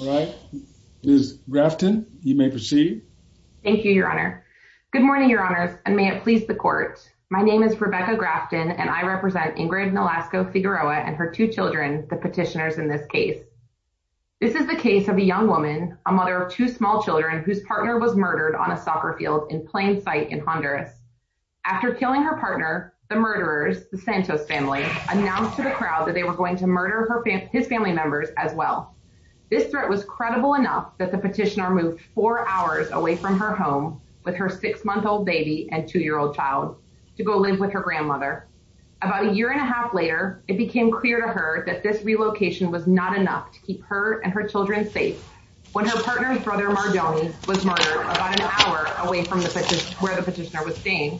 All right, Ms. Grafton, you may proceed. Thank you, Your Honor. Good morning, Your Honors, and may it please the Court. My name is Rebecca Grafton, and I represent Ingrid Nolasco-Figueroa and her two children, the petitioners in this case. This is the case of a young woman, a mother of two small children, whose partner was murdered on a soccer field in plain sight in Honduras. After killing her partner, the murderers, the Santos family, announced to the crowd that they were going to murder his family members as well. This threat was credible enough that the petitioner moved four hours away from her home with her six-month-old baby and two-year-old child to go live with her grandmother. About a year and a half later, it became clear to her that this relocation was not enough to keep her and her children safe when her partner's brother, Mardoni, was murdered about an hour away from where the petitioner was staying.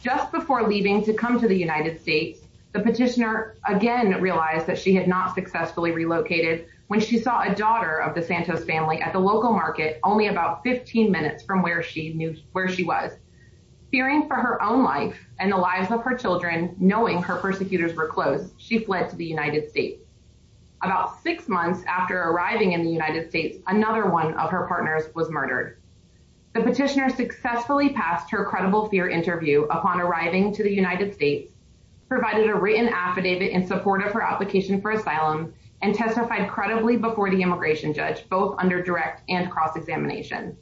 Just before leaving to come to the United States, the petitioner again realized that she had not successfully relocated when she saw a daughter of the Santos family at the local market only about 15 minutes from where she was. Fearing for her own life and the lives of her children, knowing her persecutors were close, she fled to the United States. About six months after arriving in the United States, another one of her partners was murdered. The petitioner successfully passed her credible fear interview upon arriving to the United States, provided a written affidavit in support of her application for asylum, and testified credibly before the immigration judge, both under direct and cross-examination.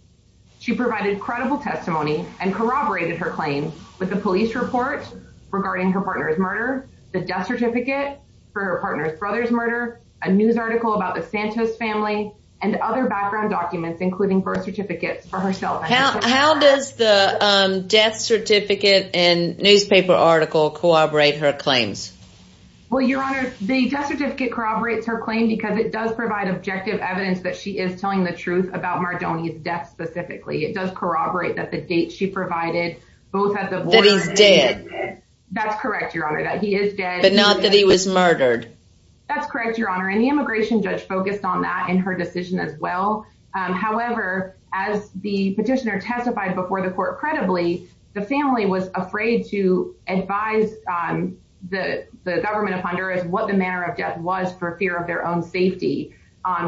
She provided credible testimony and corroborated her claim with the police report regarding her partner's murder, the death certificate for her partner's brother's murder, a news article about the Santos family, and other background documents, including birth certificates for herself. How does the death certificate and newspaper article corroborate her claims? Well, Your Honor, the death certificate corroborates her claim because it does provide objective evidence that she is telling the truth about Mardoni's death specifically. It does corroborate that the date she provided both at the border... That he's dead. That's correct, Your Honor, that he is dead. But not that he was murdered. That's correct, Your Honor, and the immigration judge focused on that in her decision as well. However, as the petitioner testified before the court credibly, the family was afraid to advise the government of Honduras what the manner of death was for fear of their own safety.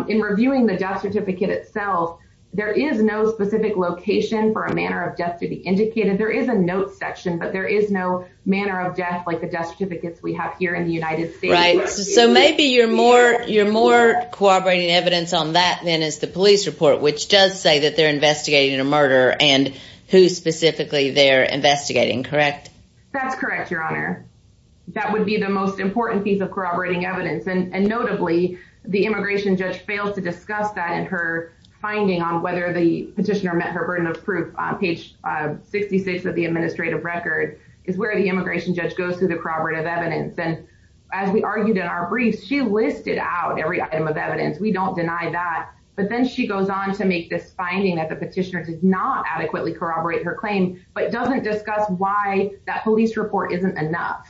In reviewing the death certificate itself, there is no specific location for a manner of death to be indicated. There is a notes section, but there is no manner of death like the death certificates we have here in the United States. So maybe you're more corroborating evidence on that than is the police report, which does say that they're investigating a murder and who specifically they're investigating, correct? That's correct, Your Honor. That would be the most important piece of corroborating evidence. And notably, the immigration judge failed to discuss that in her finding on whether the petitioner met her burden of proof on page 66 of the administrative record is where the immigration judge goes through the corroborative evidence. And as we argued in our briefs, she listed out every item of evidence. We don't deny that. But then she goes on to make this finding that the petitioner did not adequately corroborate her claim, but doesn't discuss why that police report isn't enough.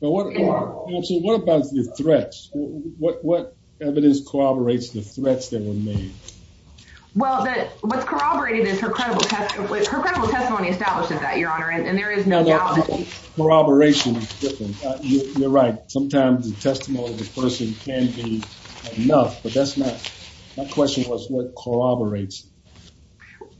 So what about the threats? What evidence corroborates the threats that were made? Well, what's corroborated is her credible testimony. Her credible testimony establishes that, Your Honor. And there is no doubt. Corroboration is different. You're right. Sometimes the testimony of a person can be enough, but that's not. My question was what corroborates?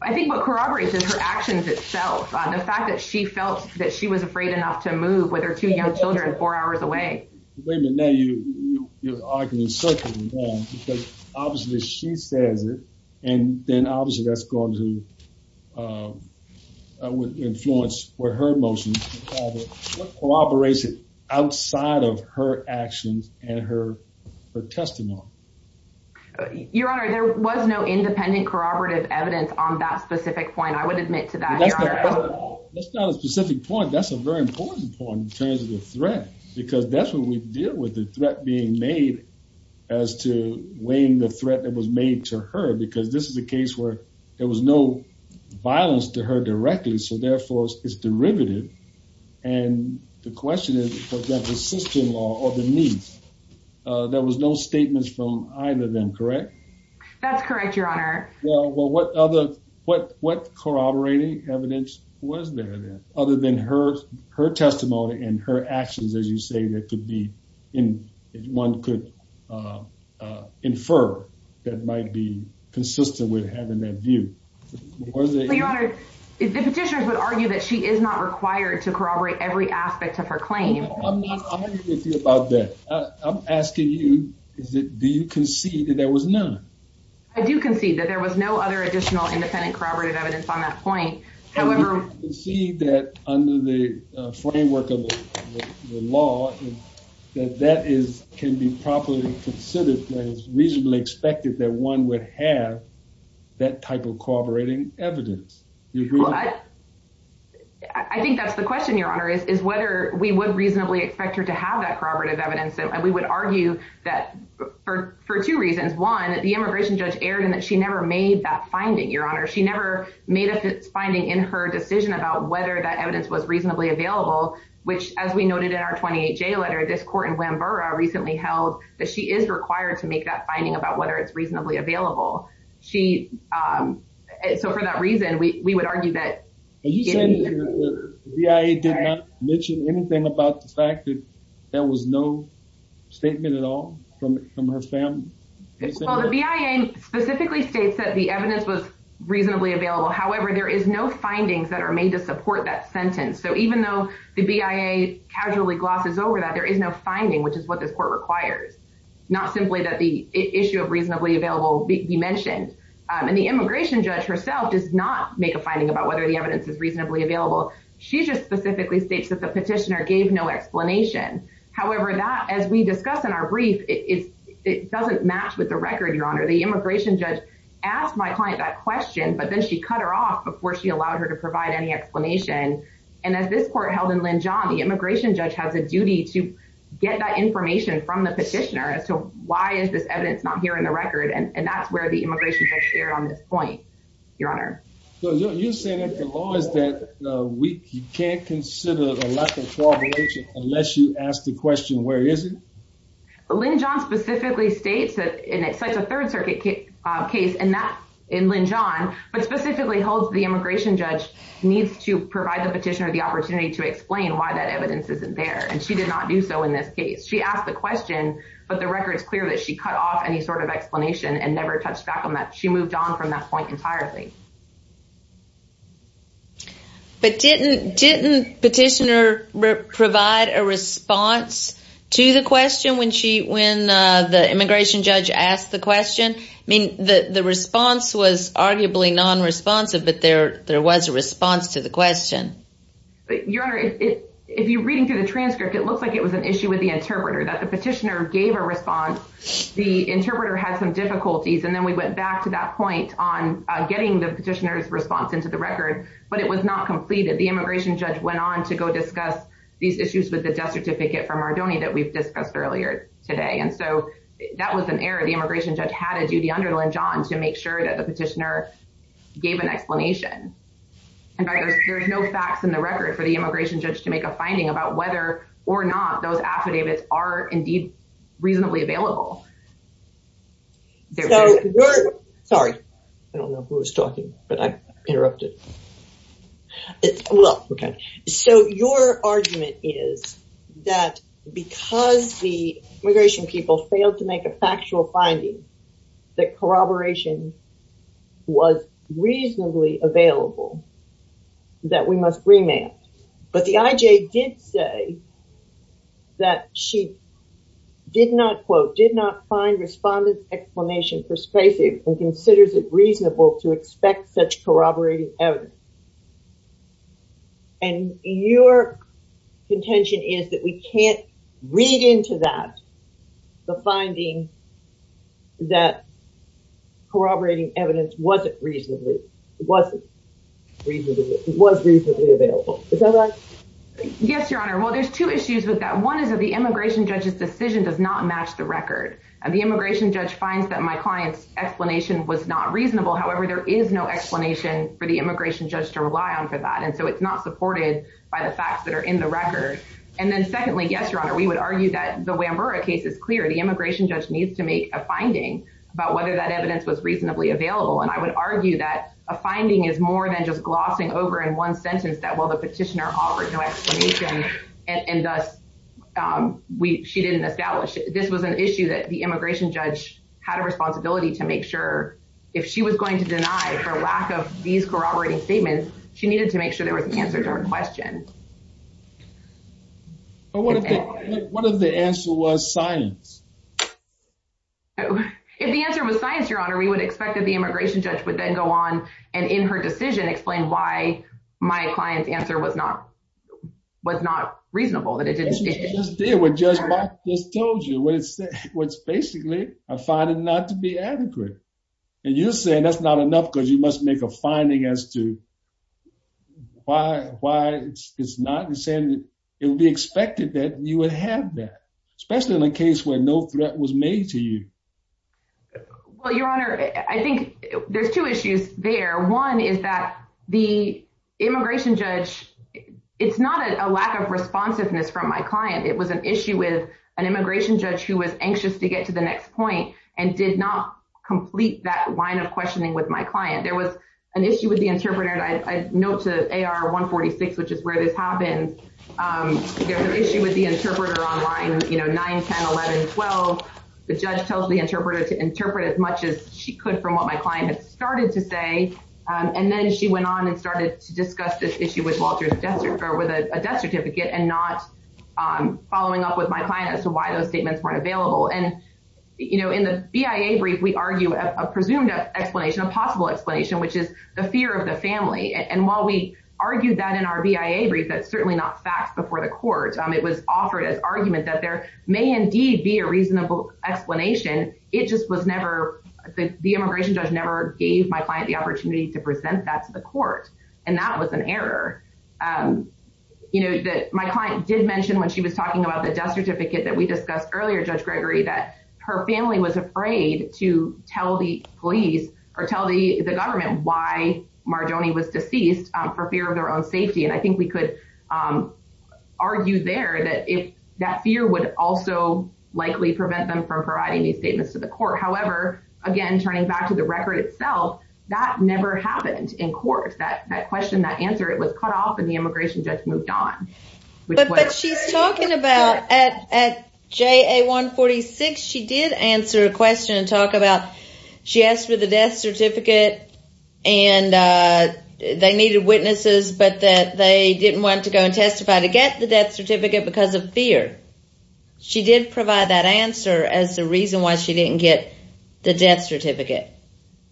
I think what corroborates is her actions itself. The fact that she felt that she was afraid enough to move with her two young children four hours away. Wait a minute. Now you're arguing because obviously she says it, and then obviously that's going to influence where her emotions corroboration outside of her actions and her her testimony. Your Honor, there was no independent corroborative evidence on that specific point. I would admit to that. That's not a specific point. That's a very important point in terms of the threat, because that's what we deal with. The threat being made as to weighing the threat that was made to her. Because this is a case where there was no violence to her directly, so therefore it's derivative. And the question is, for example, sister-in-law or the niece. There was no statements from either of them, correct? That's correct, Your Honor. Well, what corroborating evidence was there then other than her testimony and her actions, as you say, that one could infer that might be consistent with having that view? The petitioners would argue that she is not required to corroborate every aspect of her claim. I'm asking you, do you concede that there was none? I do concede that there was no other additional independent corroborative evidence on that point. However, see that under the framework of the law, that that is can be properly considered as reasonably expected that one would have that type of corroborating evidence. I think that's the question, Your Honor, is whether we would reasonably expect her to have that corroborative evidence. And we would argue that for two reasons. One, the immigration judge erred in that she never made that finding, Your Honor. She never made a fixed finding in her decision about whether that evidence was reasonably available, which as we noted in our 28J letter, this court in Glamborough recently held that she is required to make that finding about whether it's reasonably available. So for that reason, we would argue that. You said the BIA did not mention anything about the fact that there was no statement at all from her family? Well, the BIA specifically states that the evidence was reasonably available. However, there is no findings that are made to support that sentence. So even though the BIA casually glosses over that, there is no finding, which is what this court requires. Not simply that the issue of reasonably available be mentioned. And the immigration judge herself does not make a statement that the evidence is reasonably available. She just specifically states that the petitioner gave no explanation. However, that, as we discussed in our brief, it doesn't match with the record, Your Honor. The immigration judge asked my client that question, but then she cut her off before she allowed her to provide any explanation. And as this court held in Linjohn, the immigration judge has a duty to get that information from the petitioner as to why is this evidence not here in the record. And that's where the immigration judge erred on this point, Your Honor. So you're saying that the law is that weak? You can't consider a lack of corroboration unless you ask the question, where is it? Linjohn specifically states that it's like a third circuit case in Linjohn, but specifically holds the immigration judge needs to provide the petitioner the opportunity to explain why that evidence isn't there. And she did not do so in this case. She asked the question, but the record is clear that she cut off any sort of explanation and never touched back on that. She moved on from that point entirely. But didn't petitioner provide a response to the question when the immigration judge asked the question? I mean, the response was arguably non-responsive, but there was a response to the question. Your Honor, if you're reading through the transcript, it looks like it was an issue with the interpreter that the petitioner gave a response. The interpreter had some difficulties. And then we went back to that point on getting the petitioner's response into the record, but it was not completed. The immigration judge went on to go discuss these issues with the death certificate from Mardoni that we've discussed earlier today. And so that was an error. The immigration judge had to do the underline, John, to make sure that the petitioner gave an explanation. And there's no facts in the record for the immigration judge to make a finding about whether or not those affidavits are indeed reasonably available. Sorry, I don't know who was talking, but I interrupted. So your argument is that because the immigration people failed to make a factual finding that corroboration was reasonably available, that we must remand. But the IJ did say that she did not quote, did not find respondent's explanation persuasive and considers it reasonable to expect such corroborating evidence. And your contention is that we can't read into that the finding that corroborating evidence wasn't reasonably, wasn't reasonably, was reasonably available. Is that right? Yes, your honor. Well, there's two issues with that. One is that the immigration judge's decision does not match the record. And the immigration judge finds that my client's explanation was not reasonable. However, there is no explanation for the immigration judge to rely on for that. And so it's not supported by the facts that are the record. And then secondly, yes, your honor, we would argue that the Wambura case is clear. The immigration judge needs to make a finding about whether that evidence was reasonably available. And I would argue that a finding is more than just glossing over in one sentence that, well, the petitioner offered no explanation and thus she didn't establish. This was an issue that the immigration judge had a responsibility to make sure if she was going to deny for lack of these corroborating statements, she needed to make sure there was an answer to her question. But what if the answer was science? If the answer was science, your honor, we would expect that the immigration judge would then go on and in her decision explain why my client's answer was not, was not reasonable. That it just did what Judge Mark just told you. What it's, what's basically, a finding not to be adequate. And you're saying that's not enough because you must make a finding as to why, why it's not the same. It would be expected that you would have that, especially in a case where no threat was made to you. Well, your honor, I think there's two issues there. One is that the immigration judge, it's not a lack of responsiveness from my client. It was an issue with an immigration judge who was anxious to get to the next point and did not complete that line of questioning with my client. There was an issue with the interpreter. I note to AR 146, which is where this happens, there's an issue with the interpreter online, you know, 9, 10, 11, 12. The judge tells the interpreter to interpret as much as she could from what my client had started to say. And then she went on and started to discuss this issue with Walter's death, or with a death certificate, and not following up with my client as to why those statements weren't available. And, you know, the BIA brief, we argue a presumed explanation, a possible explanation, which is the fear of the family. And while we argue that in our BIA brief, that's certainly not fact before the court, it was offered as argument that there may indeed be a reasonable explanation. It just was never, the immigration judge never gave my client the opportunity to present that to the court. And that was an error. You know, that my client did mention when she was talking about the death to tell the police or tell the government why Marjoni was deceased for fear of their own safety. And I think we could argue there that if that fear would also likely prevent them from providing these statements to the court. However, again, turning back to the record itself, that never happened in court. That question, that answer, it was cut off and the immigration judge moved on. But she's talking about at JA 146, she did answer a question and talk about, she asked for the death certificate and they needed witnesses, but that they didn't want to go and testify to get the death certificate because of fear. She did provide that answer as the reason why she didn't get the death certificate.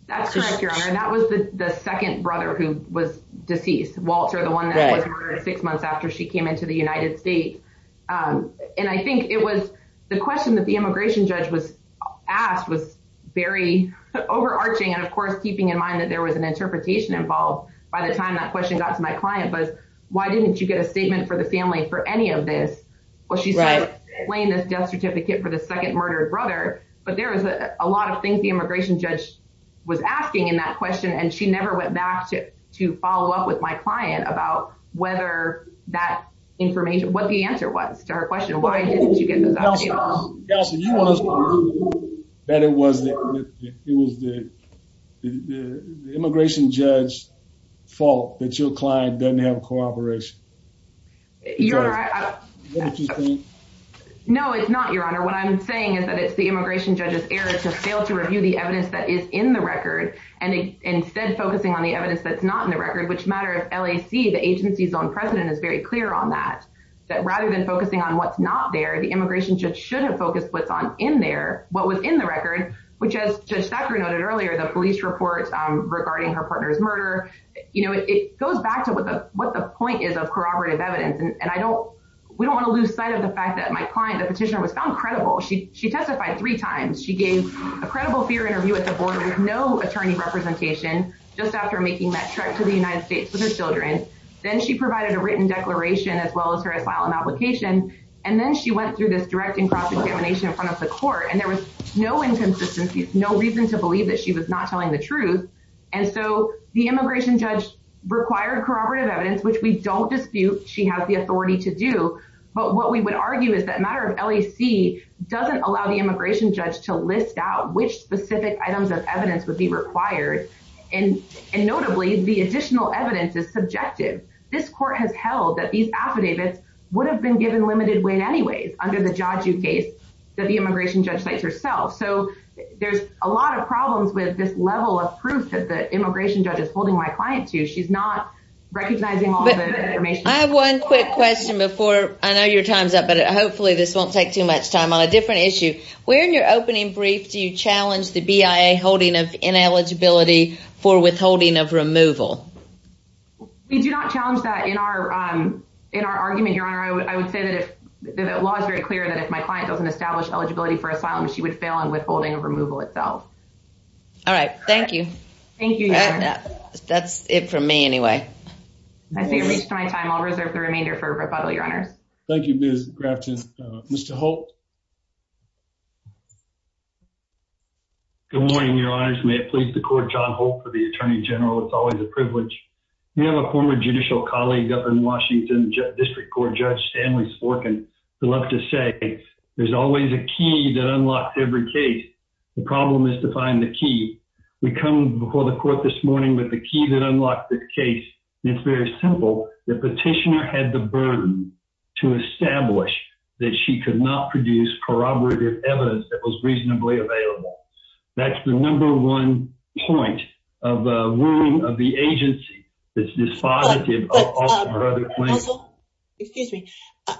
That's correct, Your Honor. That was the second brother who was deceased. Walter, the one that was murdered six months after she came into the United States. And I think it was the question that the immigration judge was asked was very overarching. And of course, keeping in mind that there was an interpretation involved by the time that question got to my client was, why didn't you get a statement for the family for any of this? Well, she's playing this death certificate for the second murdered brother, but there was a lot of things the immigration judge was asking in that question. And she never went back to follow up with my client about whether that information, what the answer was to her question. Why didn't you get the document? You want us to believe that it was the immigration judge's fault that your client doesn't have cooperation? No, it's not, Your Honor. What I'm saying is that it's the immigration judge's error to fail to focus on the evidence that's not in the record, which matter of LAC, the agency's own president is very clear on that. That rather than focusing on what's not there, the immigration judge should have focused what's on in there, what was in the record, which as Judge Thacker noted earlier, the police reports regarding her partner's murder. It goes back to what the point is of corroborative evidence. And we don't want to lose sight of the fact that my client, the petitioner was found credible. She testified three times. She gave a credible fear interview with no attorney representation just after making that trip to the United States with her children. Then she provided a written declaration as well as her asylum application. And then she went through this direct and cross examination in front of the court. And there was no inconsistencies, no reason to believe that she was not telling the truth. And so the immigration judge required corroborative evidence, which we don't dispute. She has the authority to do. But what we would argue is that matter of LAC doesn't allow the immigration judge to list out which specific items of evidence would be required. And notably, the additional evidence is subjective. This court has held that these affidavits would have been given limited weight anyways under the Jaju case that the immigration judge cites herself. So there's a lot of problems with this level of proof that the immigration judge is holding my client to. She's not recognizing all the information. I have one quick question before, I know your time's up, but hopefully this won't take too much time on a different issue. Where in your opening brief do you challenge the BIA holding of ineligibility for withholding of removal? We do not challenge that in our argument, Your Honor. I would say that the law is very clear that if my client doesn't establish eligibility for asylum, she would fail on withholding of removal itself. All right. Thank you. Thank you, Your Honor. That's it for me anyway. I think I've reached my time. I'll reserve the remainder for rebuttal, Your Honors. Thank you, Ms. Grafton. Mr. Holt. Good morning, Your Honors. May it please the court, John Holt for the Attorney General. It's always a privilege. We have a former judicial colleague up in Washington, District Court Judge Stanley Sporkin, who loves to say, there's always a key that unlocks every case. The problem is to find the key. We come before the court this morning with the key that unlocks the case. It's very simple. The petitioner had the burden to establish that she could not produce corroborative evidence that was reasonably available. That's the number one point of ruling of the agency. Excuse me.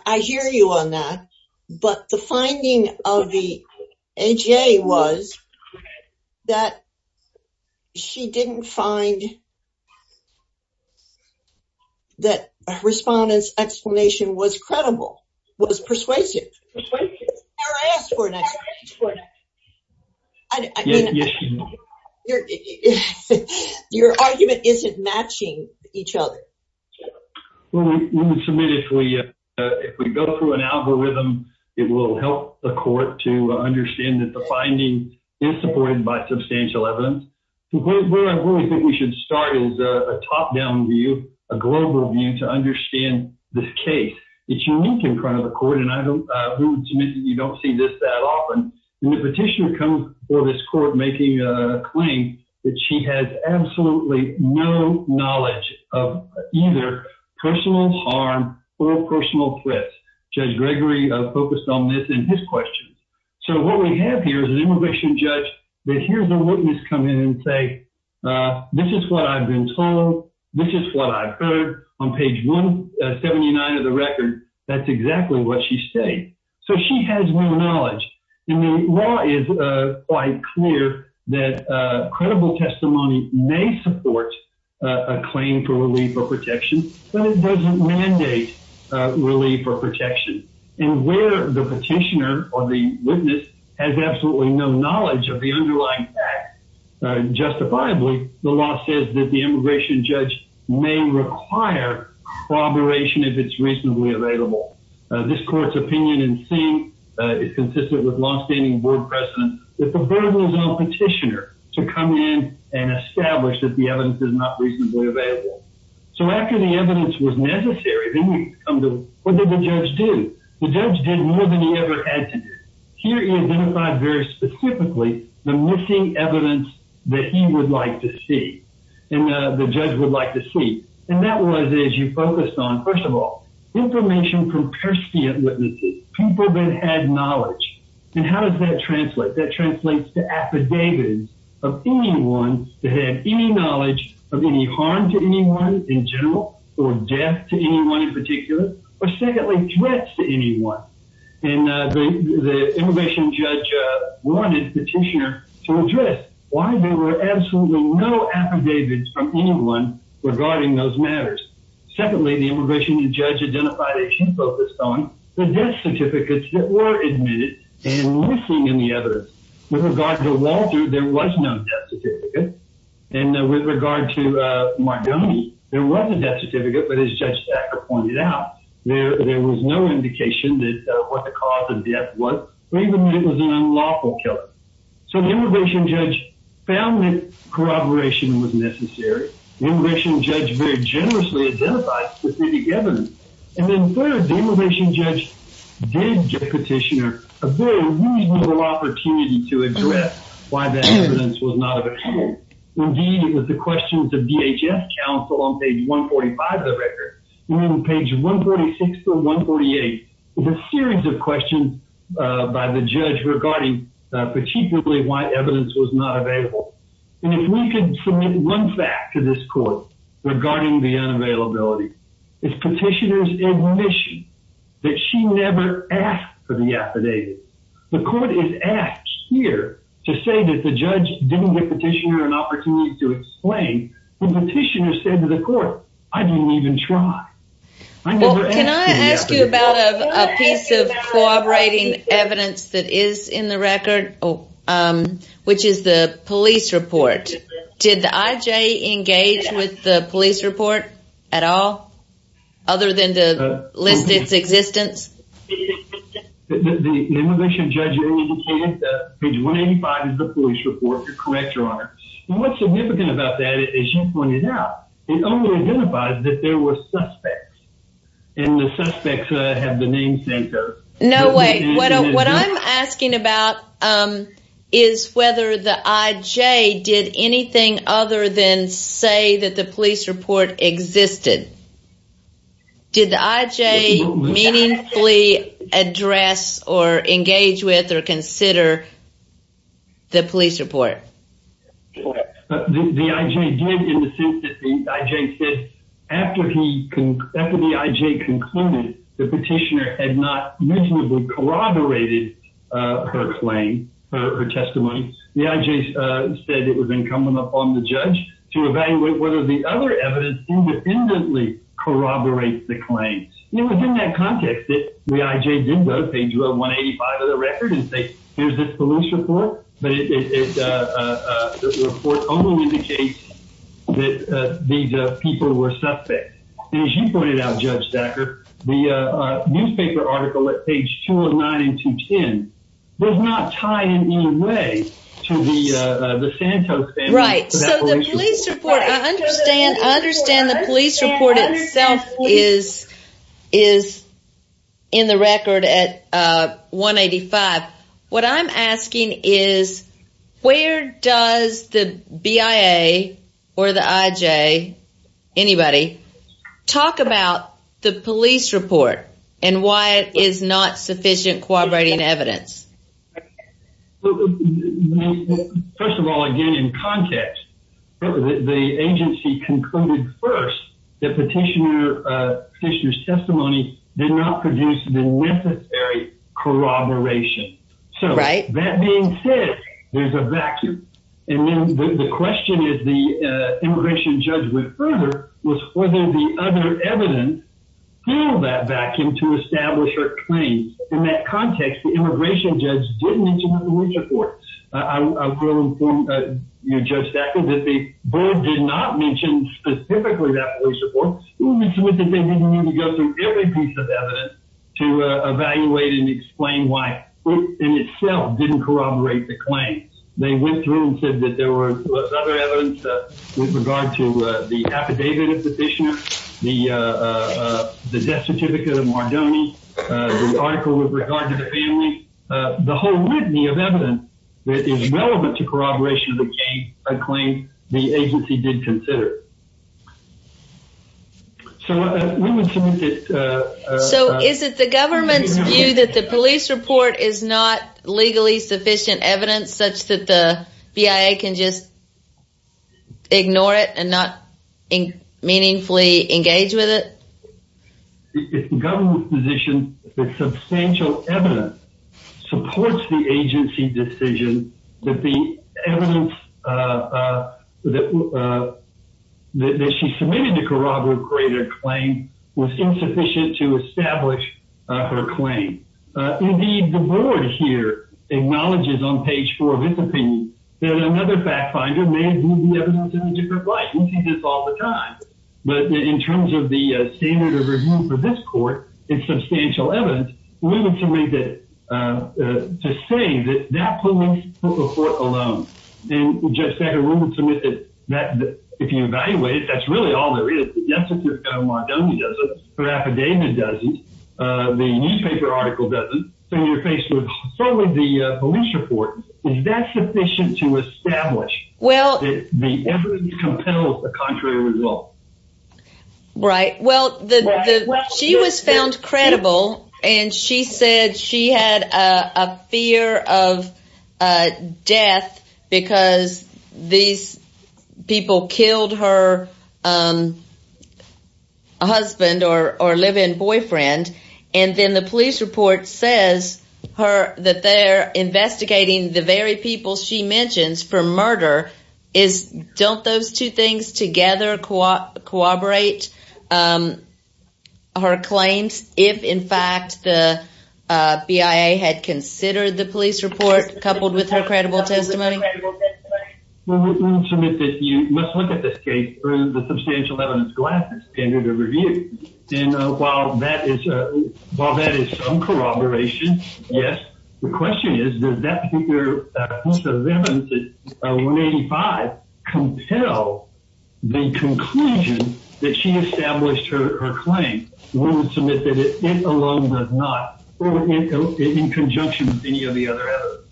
I hear you on that, but the finding of the AJA was that she didn't find that a respondent's explanation was credible, was persuasive. Your argument isn't matching each other. Well, we would submit if we go through an algorithm, it will help the court to understand that the finding is supported by substantial evidence. Where I really think we should start is a top-down view, a global view to understand this case. It's unique in front of the court, and I would submit that you don't see this that often. The petitioner comes before this court making a claim that she has absolutely no knowledge of either personal harm or personal threats. Judge Gregory focused on this in his question. What we have here is an immigration judge that hears a witness come in and say, this is what I've been told, this is what I've heard. On page 179 of the record, that's exactly what she's saying. So she has no knowledge, and the law is quite clear that credible testimony may support a claim for relief or protection, but it doesn't mandate relief or protection. And where the petitioner or the witness has absolutely no knowledge of the underlying facts, justifiably, the law says that the immigration judge may require corroboration if it's reasonably available. This court's opinion in seeing is consistent with long-standing board precedent that the burden is on the petitioner to come in and establish that the evidence is not reasonably available. So after the evidence was necessary, then we come to, what did the judge do? The judge did more than he ever had to do. Here, he identified very specifically the missing evidence that he would like to see, and the judge would like to see. And that was, as you focused on, first of all, information from persiant witnesses, people that had knowledge. And how does that translate? That translates to affidavits of anyone that had any knowledge of any harm to anyone in general, or death to anyone in particular, or secondly, threats to anyone. And the immigration judge wanted petitioner to address why there were absolutely no affidavits from anyone regarding those matters. Secondly, the immigration judge identified that he focused on the death certificates that were admitted and missing in the evidence. With regard to Walter, there was no death certificate. And with regard to Marconi, there was a death certificate, but as Judge Sackler pointed out, there was no indication that what the cause of death was, or even that it was an unlawful killer. So the immigration judge found that corroboration was necessary. The immigration judge very generously identified specific evidence. And then third, immigration judge did give petitioner a very reasonable opportunity to address why that evidence was not available. Indeed, with the questions of DHS counsel on page 145 of the record, and then page 146 to 148, there's a series of questions by the judge regarding particularly why evidence was not available. And if we could submit one fact to this court regarding the unavailability, it's petitioner's admission that she never asked for the affidavit. The court is asked here to say that the judge didn't give petitioner an opportunity to explain. The petitioner said to the court, I didn't even try. Well, can I ask you about a piece of corroborating evidence that is in the record, um, which is the police report. Did the IJ engage with the police report at all, other than to list its existence? The immigration judge indicated that page 185 is the police report to correct your honor. And what's significant about that, as you pointed out, it only identifies that there were suspects. And the suspects have the namesake of... No way. What I'm asking about is whether the IJ did anything other than say that the police report existed. Did the IJ meaningfully address or engage with or consider the police report? The IJ did in the sense that the IJ said after the IJ concluded the petitioner had not corroborated her claim, her testimony, the IJ said it was incumbent upon the judge to evaluate whether the other evidence independently corroborates the claims. It was in that context that the IJ did go to page 185 of the record and say, here's this police report, but it's a report only indicates that these people were suspects. And as you pointed out, Judge Zacher, the newspaper article at page 209 and 210 does not tie in any way to the Santos family. Right. So the police report, I understand the police report itself is in the record at 185. What I'm asking is where does the BIA or the IJ, anybody, talk about the police report and why it is not sufficient corroborating evidence? First of all, again, in context, the agency concluded first that petitioner's testimony did not produce the necessary corroboration. So that being said, there's a vacuum. And the question is, the immigration judge went further, was whether the other evidence filled that vacuum to establish her claims. In that context, the immigration judge didn't mention the police report. I'll quote from Judge Zacher, that the board did not mention specifically that police report. They didn't need to go through every piece of evidence to evaluate and explain why it in itself didn't corroborate the claims. They went through and there was other evidence with regard to the affidavit of the petitioner, the death certificate of Mardoni, the article with regard to the family. The whole litany of evidence that is relevant to corroboration of the case, I claim the agency did consider. So is it the government's view that the police report is not legally sufficient evidence such that the BIA can just ignore it and not meaningfully engage with it? It's the government's position that substantial evidence supports the agency's decision that the evidence that she submitted to corroborate her claim was insufficient to establish her claim. Indeed, the board here acknowledges on page four of its opinion that another fact finder may view the evidence in a different light. We see this all the time. But in terms of the standard of review for this court, it's substantial evidence. We would submit that to say that that police report alone. And Judge Zacher, we would submit that if you evaluate it, that's really all there is. The death certificate of Mardoni doesn't. Her affidavit doesn't. The newspaper article doesn't. So when you're faced with solely the police report, is that sufficient to establish that the evidence compels a contrary result? Right. Well, she was found credible. And she said she had a fear of death because these people killed her husband or live-in boyfriend. And then the police report says that they're investigating the very people she mentions for murder. Don't those two things together corroborate her claims if, in fact, the BIA had considered the police report coupled with her credible testimony? We would submit that you must look at this case for the substantial evidence glass as standard of review. And while that is some corroboration, yes. The question is, does that particular piece of evidence, 185, compel the conclusion that she established her claim? We would submit that it alone does not. In conjunction with any of the other evidence.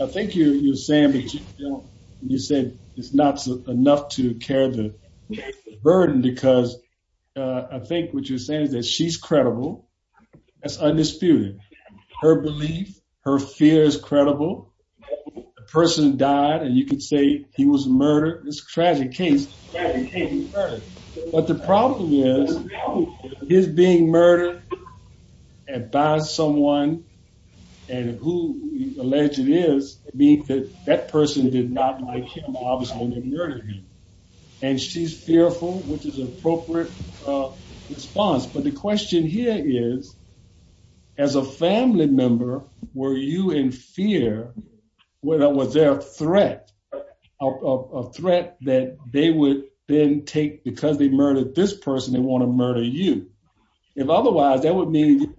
I think you're saying that you said it's not enough to carry the burden because I think what you're saying is that she's credible. That's undisputed. Her belief, her fear is credible. A person died and you could say he was murdered. It's a tragic case. Right. But the problem is, his being murdered by someone and who he alleged it is, means that that person did not like him, obviously, when they murdered him. And she's fearful, which is an appropriate response. But the question here is, as a family member, were you in fear when that was their threat, a threat that they would then take because they murdered this person, they want to murder you. If otherwise, that would mean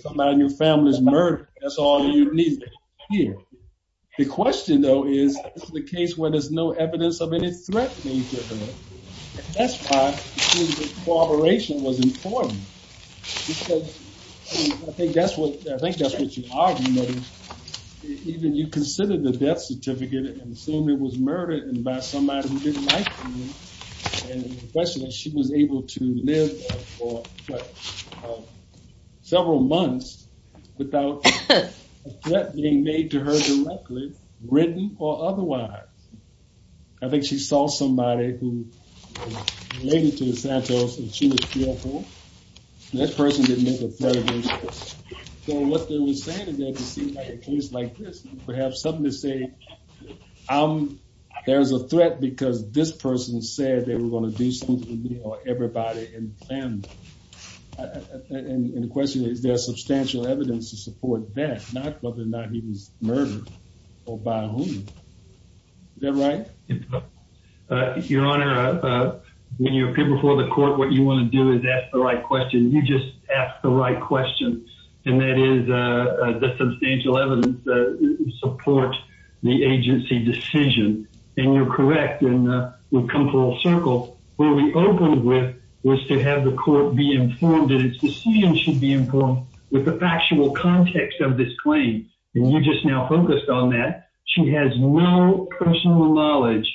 somebody in your family is murdered. That's all you need here. The question, though, is the case where there's no evidence of any threat. And that's why the cooperation was important. I think that's what you argued. Even you considered the death certificate and assumed it was murdered by somebody who didn't like you. And the question is, she was able to live for several months without a threat being made to her directly, written or otherwise. I think she saw somebody who was related to Santos and she was fearful. That person didn't make a threat against her. So what they were saying is that it seemed like a case like this, perhaps something to say, there's a threat because this person said they were going to do something to me or everybody in the family. And the question is, there's substantial evidence to support that, whether or not he was murdered or by whom. Is that right? Your Honor, when you appear before the court, what you want to do is ask the right question. You just ask the right question. And that is the substantial evidence that supports the agency decision. And you're correct. And we've come full circle. What we opened with was to have the court be informed that its decision should be informed with the factual context of this claim. And you just now focused on that. She has no personal knowledge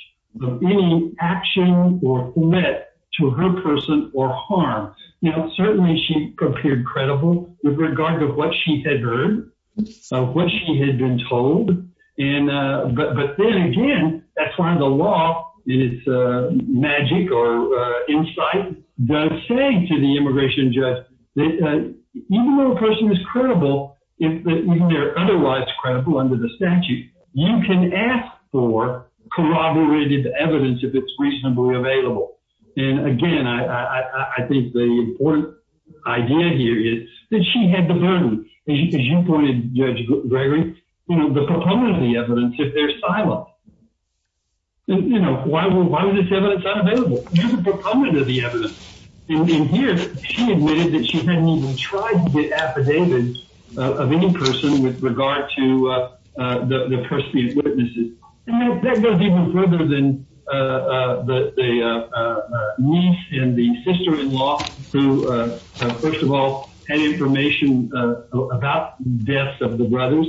of any action or threat to her person or harm. Now, certainly she appeared credible with regard to what she had heard, what she had been told. But then again, that's why the law is magic or insight does say to the immigration judge that even though a person is credible, if they're otherwise credible under the statute, you can ask for corroborated evidence if it's reasonably available. And again, I think the important idea here is that she had the burden, as you pointed, Judge Gregory, the proponent of the evidence if they're siloed. You know, why was this evidence unavailable? You're the proponent of the evidence. In here, she admitted that she hadn't even tried to get affidavit of any person with regard to the perceived witnesses. And that goes even further than the niece and the sister-in-law who, first of all, had information about the deaths of the brothers.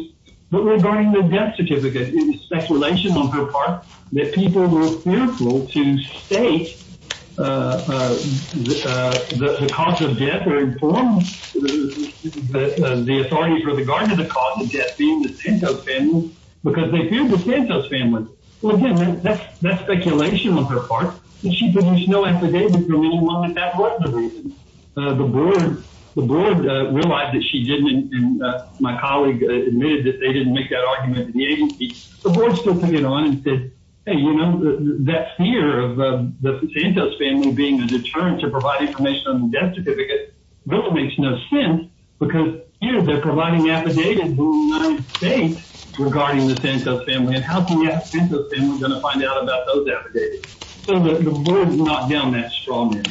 But regarding the death certificate, it was speculation on her part that people were fearful to state the cause of death or inform the authorities with regard to the cause of death being the Santos family because they feared the Santos family. Well, again, that's speculation on her part. And she produced no affidavit for any one of the reasons. The board realized that she didn't, and my colleague admitted that they didn't make that argument to the agency. The board still took it on and said, hey, you know, that fear of the Santos family being a deterrent to provide information on the death certificate really makes no sense because here they're providing affidavit in the United States regarding the Santos family. And how can you ask the Santos family to find out about those deaths? The board has not gone that strong yet.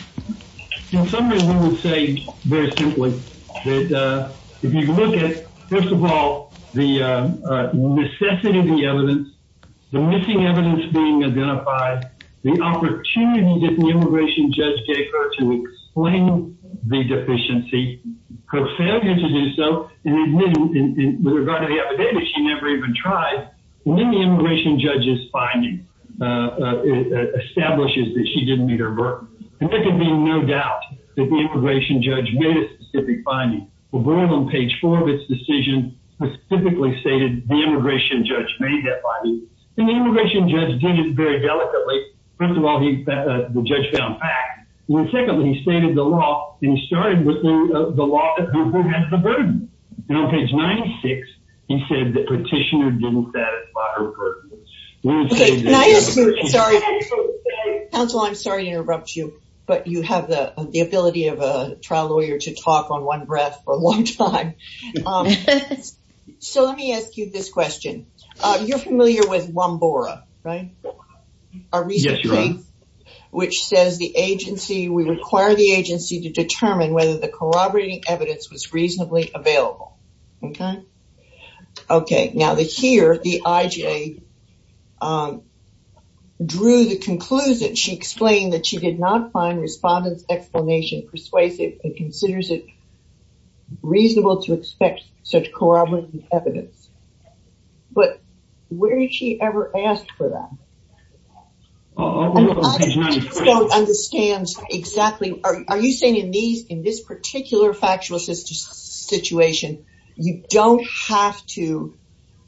In summary, we would say very simply that if you look at, first of all, the necessity of the evidence, the missing evidence being identified, the opportunity that the immigration judge gave her to explain the deficiency, her failure to do so, and with regard to the affidavit, she never even tried. And then the immigration judge's affidavit establishes that she didn't meet her burden. And there can be no doubt that the immigration judge made a specific finding. Well, we're on page four of its decision, specifically stated the immigration judge made that finding. And the immigration judge did it very delicately. First of all, the judge found facts. And then secondly, he stated the law, and he started with the law of who has the burden. And on page 96, he said the petitioner didn't meet her burden. Counsel, I'm sorry to interrupt you, but you have the ability of a trial lawyer to talk on one breath for a long time. So let me ask you this question. You're familiar with Lombora, right? Our recent case, which says the agency, we require the agency to determine whether the corroborating evidence was reasonably available. Okay. Now here, the IJ drew the conclusion, she explained that she did not find respondent's explanation persuasive and considers it reasonable to expect such corroborating evidence. But where did she ever ask for that? I don't understand exactly. Are you saying in this particular factual situation, you don't have to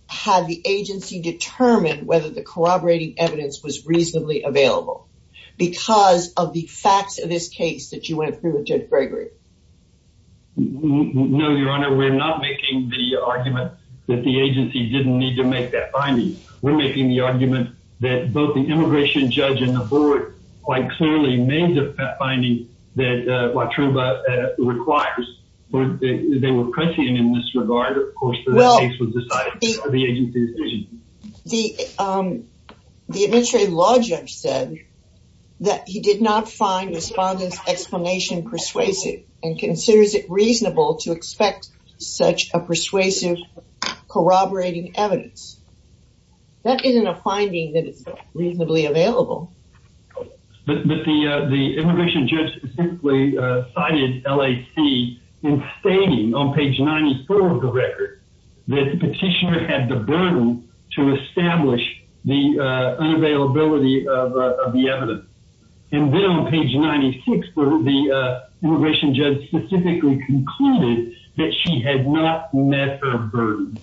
have the agency determine whether the corroborating evidence was reasonably available because of the facts of this case that you went through with Judge Gregory? No, Your Honor, we're not making the argument that the agency didn't need to make that finding. We're making the argument that both the immigration judge and the board quite clearly made the finding that Watruba requires. They were prescient in this regard, of course, that the case was decided by the agency's decision. The administrative law judge said that he did not find respondent's explanation persuasive and considers it reasonable to expect such a persuasive corroborating evidence. That isn't a finding that is reasonably available. But the immigration judge specifically cited LAC in stating on page 94 of the record that the petitioner had the burden to establish the unavailability of the evidence. And then on page 96, the immigration judge specifically concluded that she had not met her burden.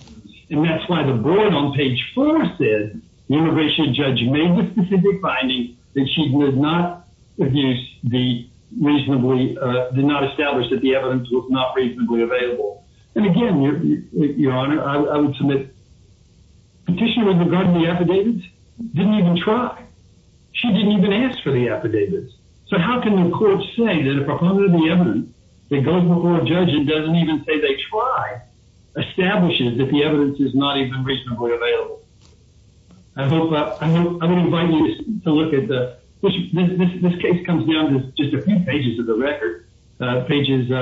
And that's why the board on page 4 said the immigration judge made the specific finding that she did not use the reasonably, did not establish that the evidence was not reasonably available. And again, Your Honor, I would submit the petitioner regarding the affidavits didn't even try. She didn't even ask for the affidavits. So how can the court say that if I follow the evidence, it's not even reasonably available? I would invite you to look at the, this case comes down to just a few pages of the record. Pages 3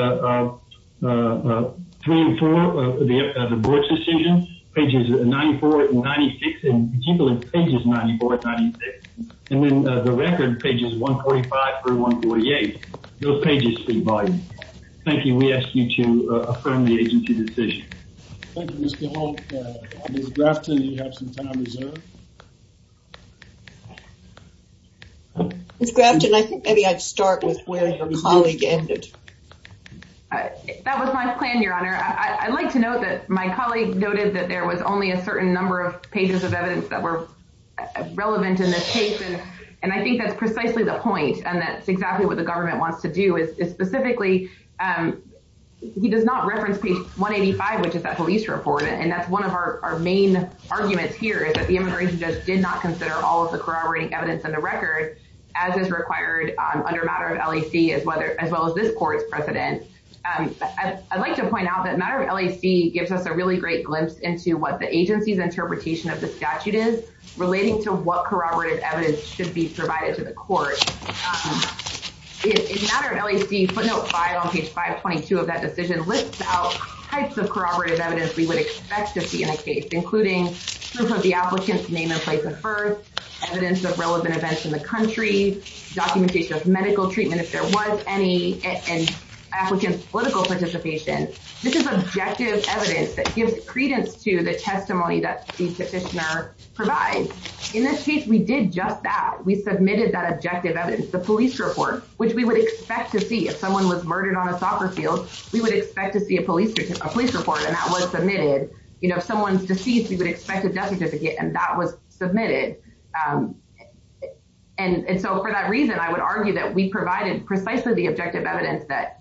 and 4 of the board's decision, pages 94 and 96, and particularly pages 94 and 96. And then the record pages 145 through 148. Those pages provide. Thank you. We ask you to affirm the agency decision. Thank you, Mr. Hall. Ms. Grafton, you have some time reserved. Ms. Grafton, I think maybe I'd start with my colleague. That was my plan, Your Honor. I'd like to note that my colleague noted that there was only a certain number of pages of evidence that were relevant in this case. And I think that's specifically, he does not reference page 185, which is that police report. And that's one of our main arguments here is that the immigration judge did not consider all of the corroborating evidence in the record as is required under matter of LAC as well as this court's precedent. I'd like to point out that matter of LAC gives us a really great glimpse into what the agency's interpretation of the statute is relating to what corroborative evidence should be provided to the court. In matter of LAC, footnote five on page 522 of that decision lists out types of corroborative evidence we would expect to see in a case, including proof of the applicant's name and place of birth, evidence of relevant events in the country, documentation of medical treatment if there was any, and applicant's political participation. This is objective evidence that gives credence to the testimony that the petitioner provides. In this case, we did just that, we submitted that objective evidence, the police report, which we would expect to see if someone was murdered on a soccer field, we would expect to see a police report and that was submitted. You know, if someone's deceased, we would expect a death certificate and that was submitted. And so for that reason, I would argue that we provided precisely the objective evidence that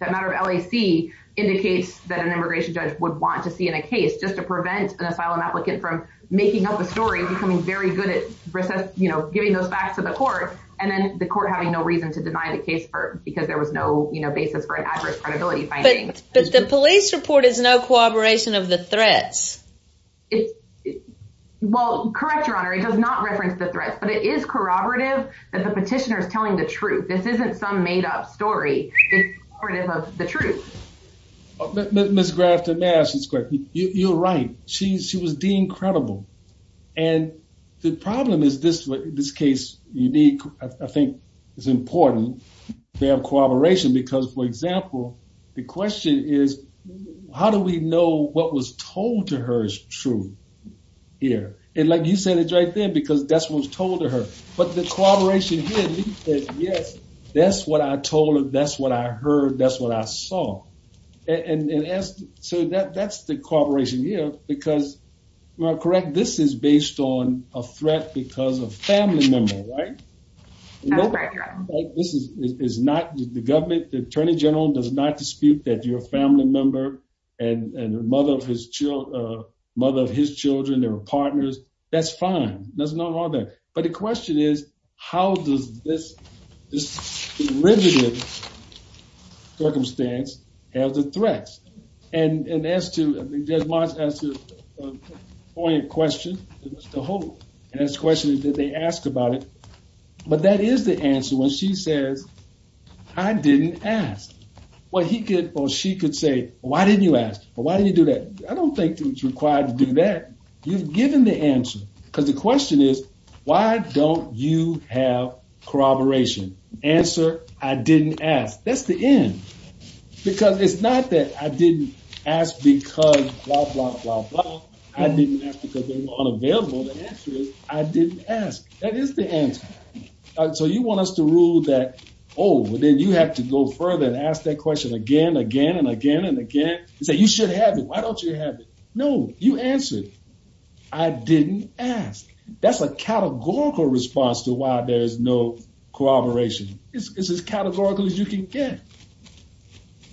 matter of LAC indicates that an immigration judge would want to see in a case just to prevent an asylum applicant from making up a story, becoming very good at, you know, giving those facts to the court, and then the court having no reason to deny the case for, because there was no, you know, basis for an adverse credibility finding. But the police report is no corroboration of the threats. Well, correct your honor, it does not reference the threats, but it is corroborative that the petitioner is telling the truth. This isn't some made-up story, it's correct. You're right, she was deemed credible. And the problem is this case, you need, I think, it's important to have corroboration because, for example, the question is, how do we know what was told to her is true here? And like you said it right then, because that's what was told to her. But the corroboration here, yes, that's what I told her, that's what I heard, that's what I saw. And so that's the corroboration here, because, well correct, this is based on a threat because of family member, right? That's right, your honor. This is not the government, the attorney general does not dispute that you're a family member and the mother of his children, they were partners, that's fine, there's no harm there. But the question is, how does this riveted circumstance have the threats? And as to, Judge March asked a poignant question to Mr. Holt, and his question is, did they ask about it? But that is the answer when she says, I didn't ask. What he could, or she could say, why didn't you ask? Why did you do that? I don't think it's required to do that. You've given the answer, because the question is, why don't you have corroboration? Answer, I didn't ask, that's the end. Because it's not that I didn't ask because blah, blah, blah, blah, I didn't ask because they were unavailable, the answer is, I didn't ask, that is the answer. So you want us to rule that, oh, well then you have to go further and ask that question again, again, and again, and again, and say, you should have it, why don't you have it? No, you answered, I didn't ask. That's a categorical response to why there's no corroboration. It's as categorical as you can get.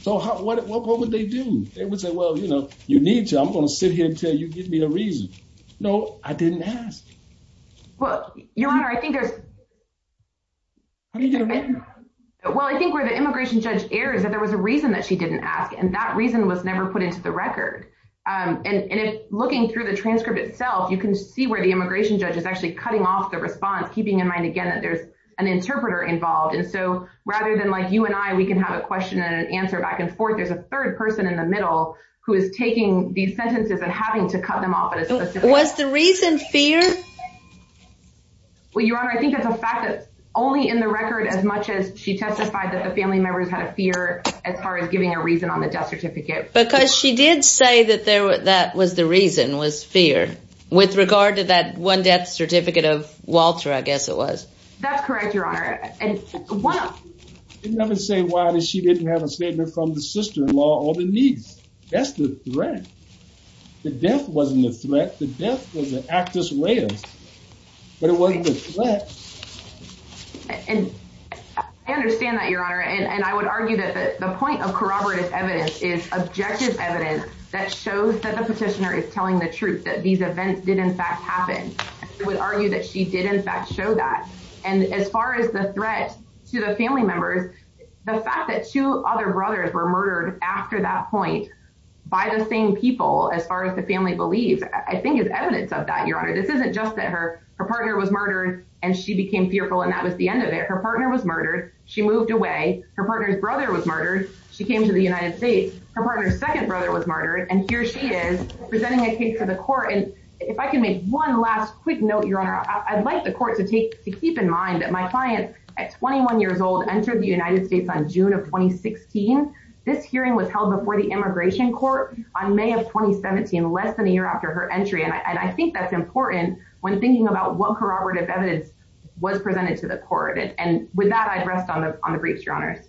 So what would they do? They would say, well, you know, you need to, I'm going to sit here and tell you, give me a reason. No, I didn't ask. Well, Your Honor, I think there's... Well, I think where the immigration judge errs is that there was a reason that she didn't ask, and that reason was never put into the record. And if looking through the transcript itself, you can see where the immigration judge is actually cutting off the response, keeping in mind, again, that there's an interpreter involved. And so rather than like you and I, we can have a question and an answer back and forth, there's a third person in the middle who is taking these sentences and having to cut them off at a specific time. Was the reason fear? Well, Your Honor, I think that's a fact that's only in the record as much as she testified that family members had a fear as far as giving a reason on the death certificate. Because she did say that that was the reason, was fear, with regard to that one death certificate of Walter, I guess it was. That's correct, Your Honor. And one of... Didn't have to say why she didn't have a statement from the sister-in-law or the niece. That's the threat. The death wasn't a threat. The death was an act as well. But it wasn't a threat. And I understand that, Your Honor. And I would argue that the point of corroborative evidence is objective evidence that shows that the petitioner is telling the truth, that these events did in fact happen. I would argue that she did in fact show that. And as far as the threat to the family members, the fact that two other brothers were murdered after that point by the same people, as far as the family believes, I think is evidence of that, Your Honor. This isn't just that her partner was murdered and she became fearful and that was the end of it. Her partner was murdered. She moved away. Her partner's brother was murdered. She came to the United States. Her partner's second brother was murdered. And here she is presenting a case to the court. And if I can make one last quick note, Your Honor, I'd like the court to keep in mind that my client at 21 years old entered the United States on June of 2016. This hearing was held before the immigration court on May of 2017, less than a year after her entry. And I think that's important when thinking about what corroborative evidence was presented to the court. And with that, I'd rest on the briefs, Your Honors.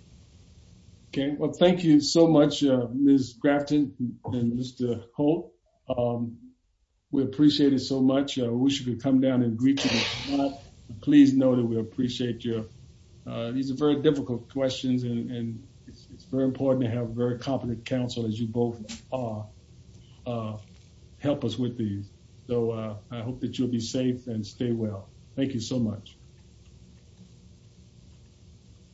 Okay. Well, thank you so much, Ms. Grafton and Mr. Holt. We appreciate it so much. I wish we could come down and greet you. Please know that we appreciate you. These are very difficult questions and it's very important to have very competent counsel, as you both are, help us with these. So I hope that you'll be safe and stay well. Thank you so much.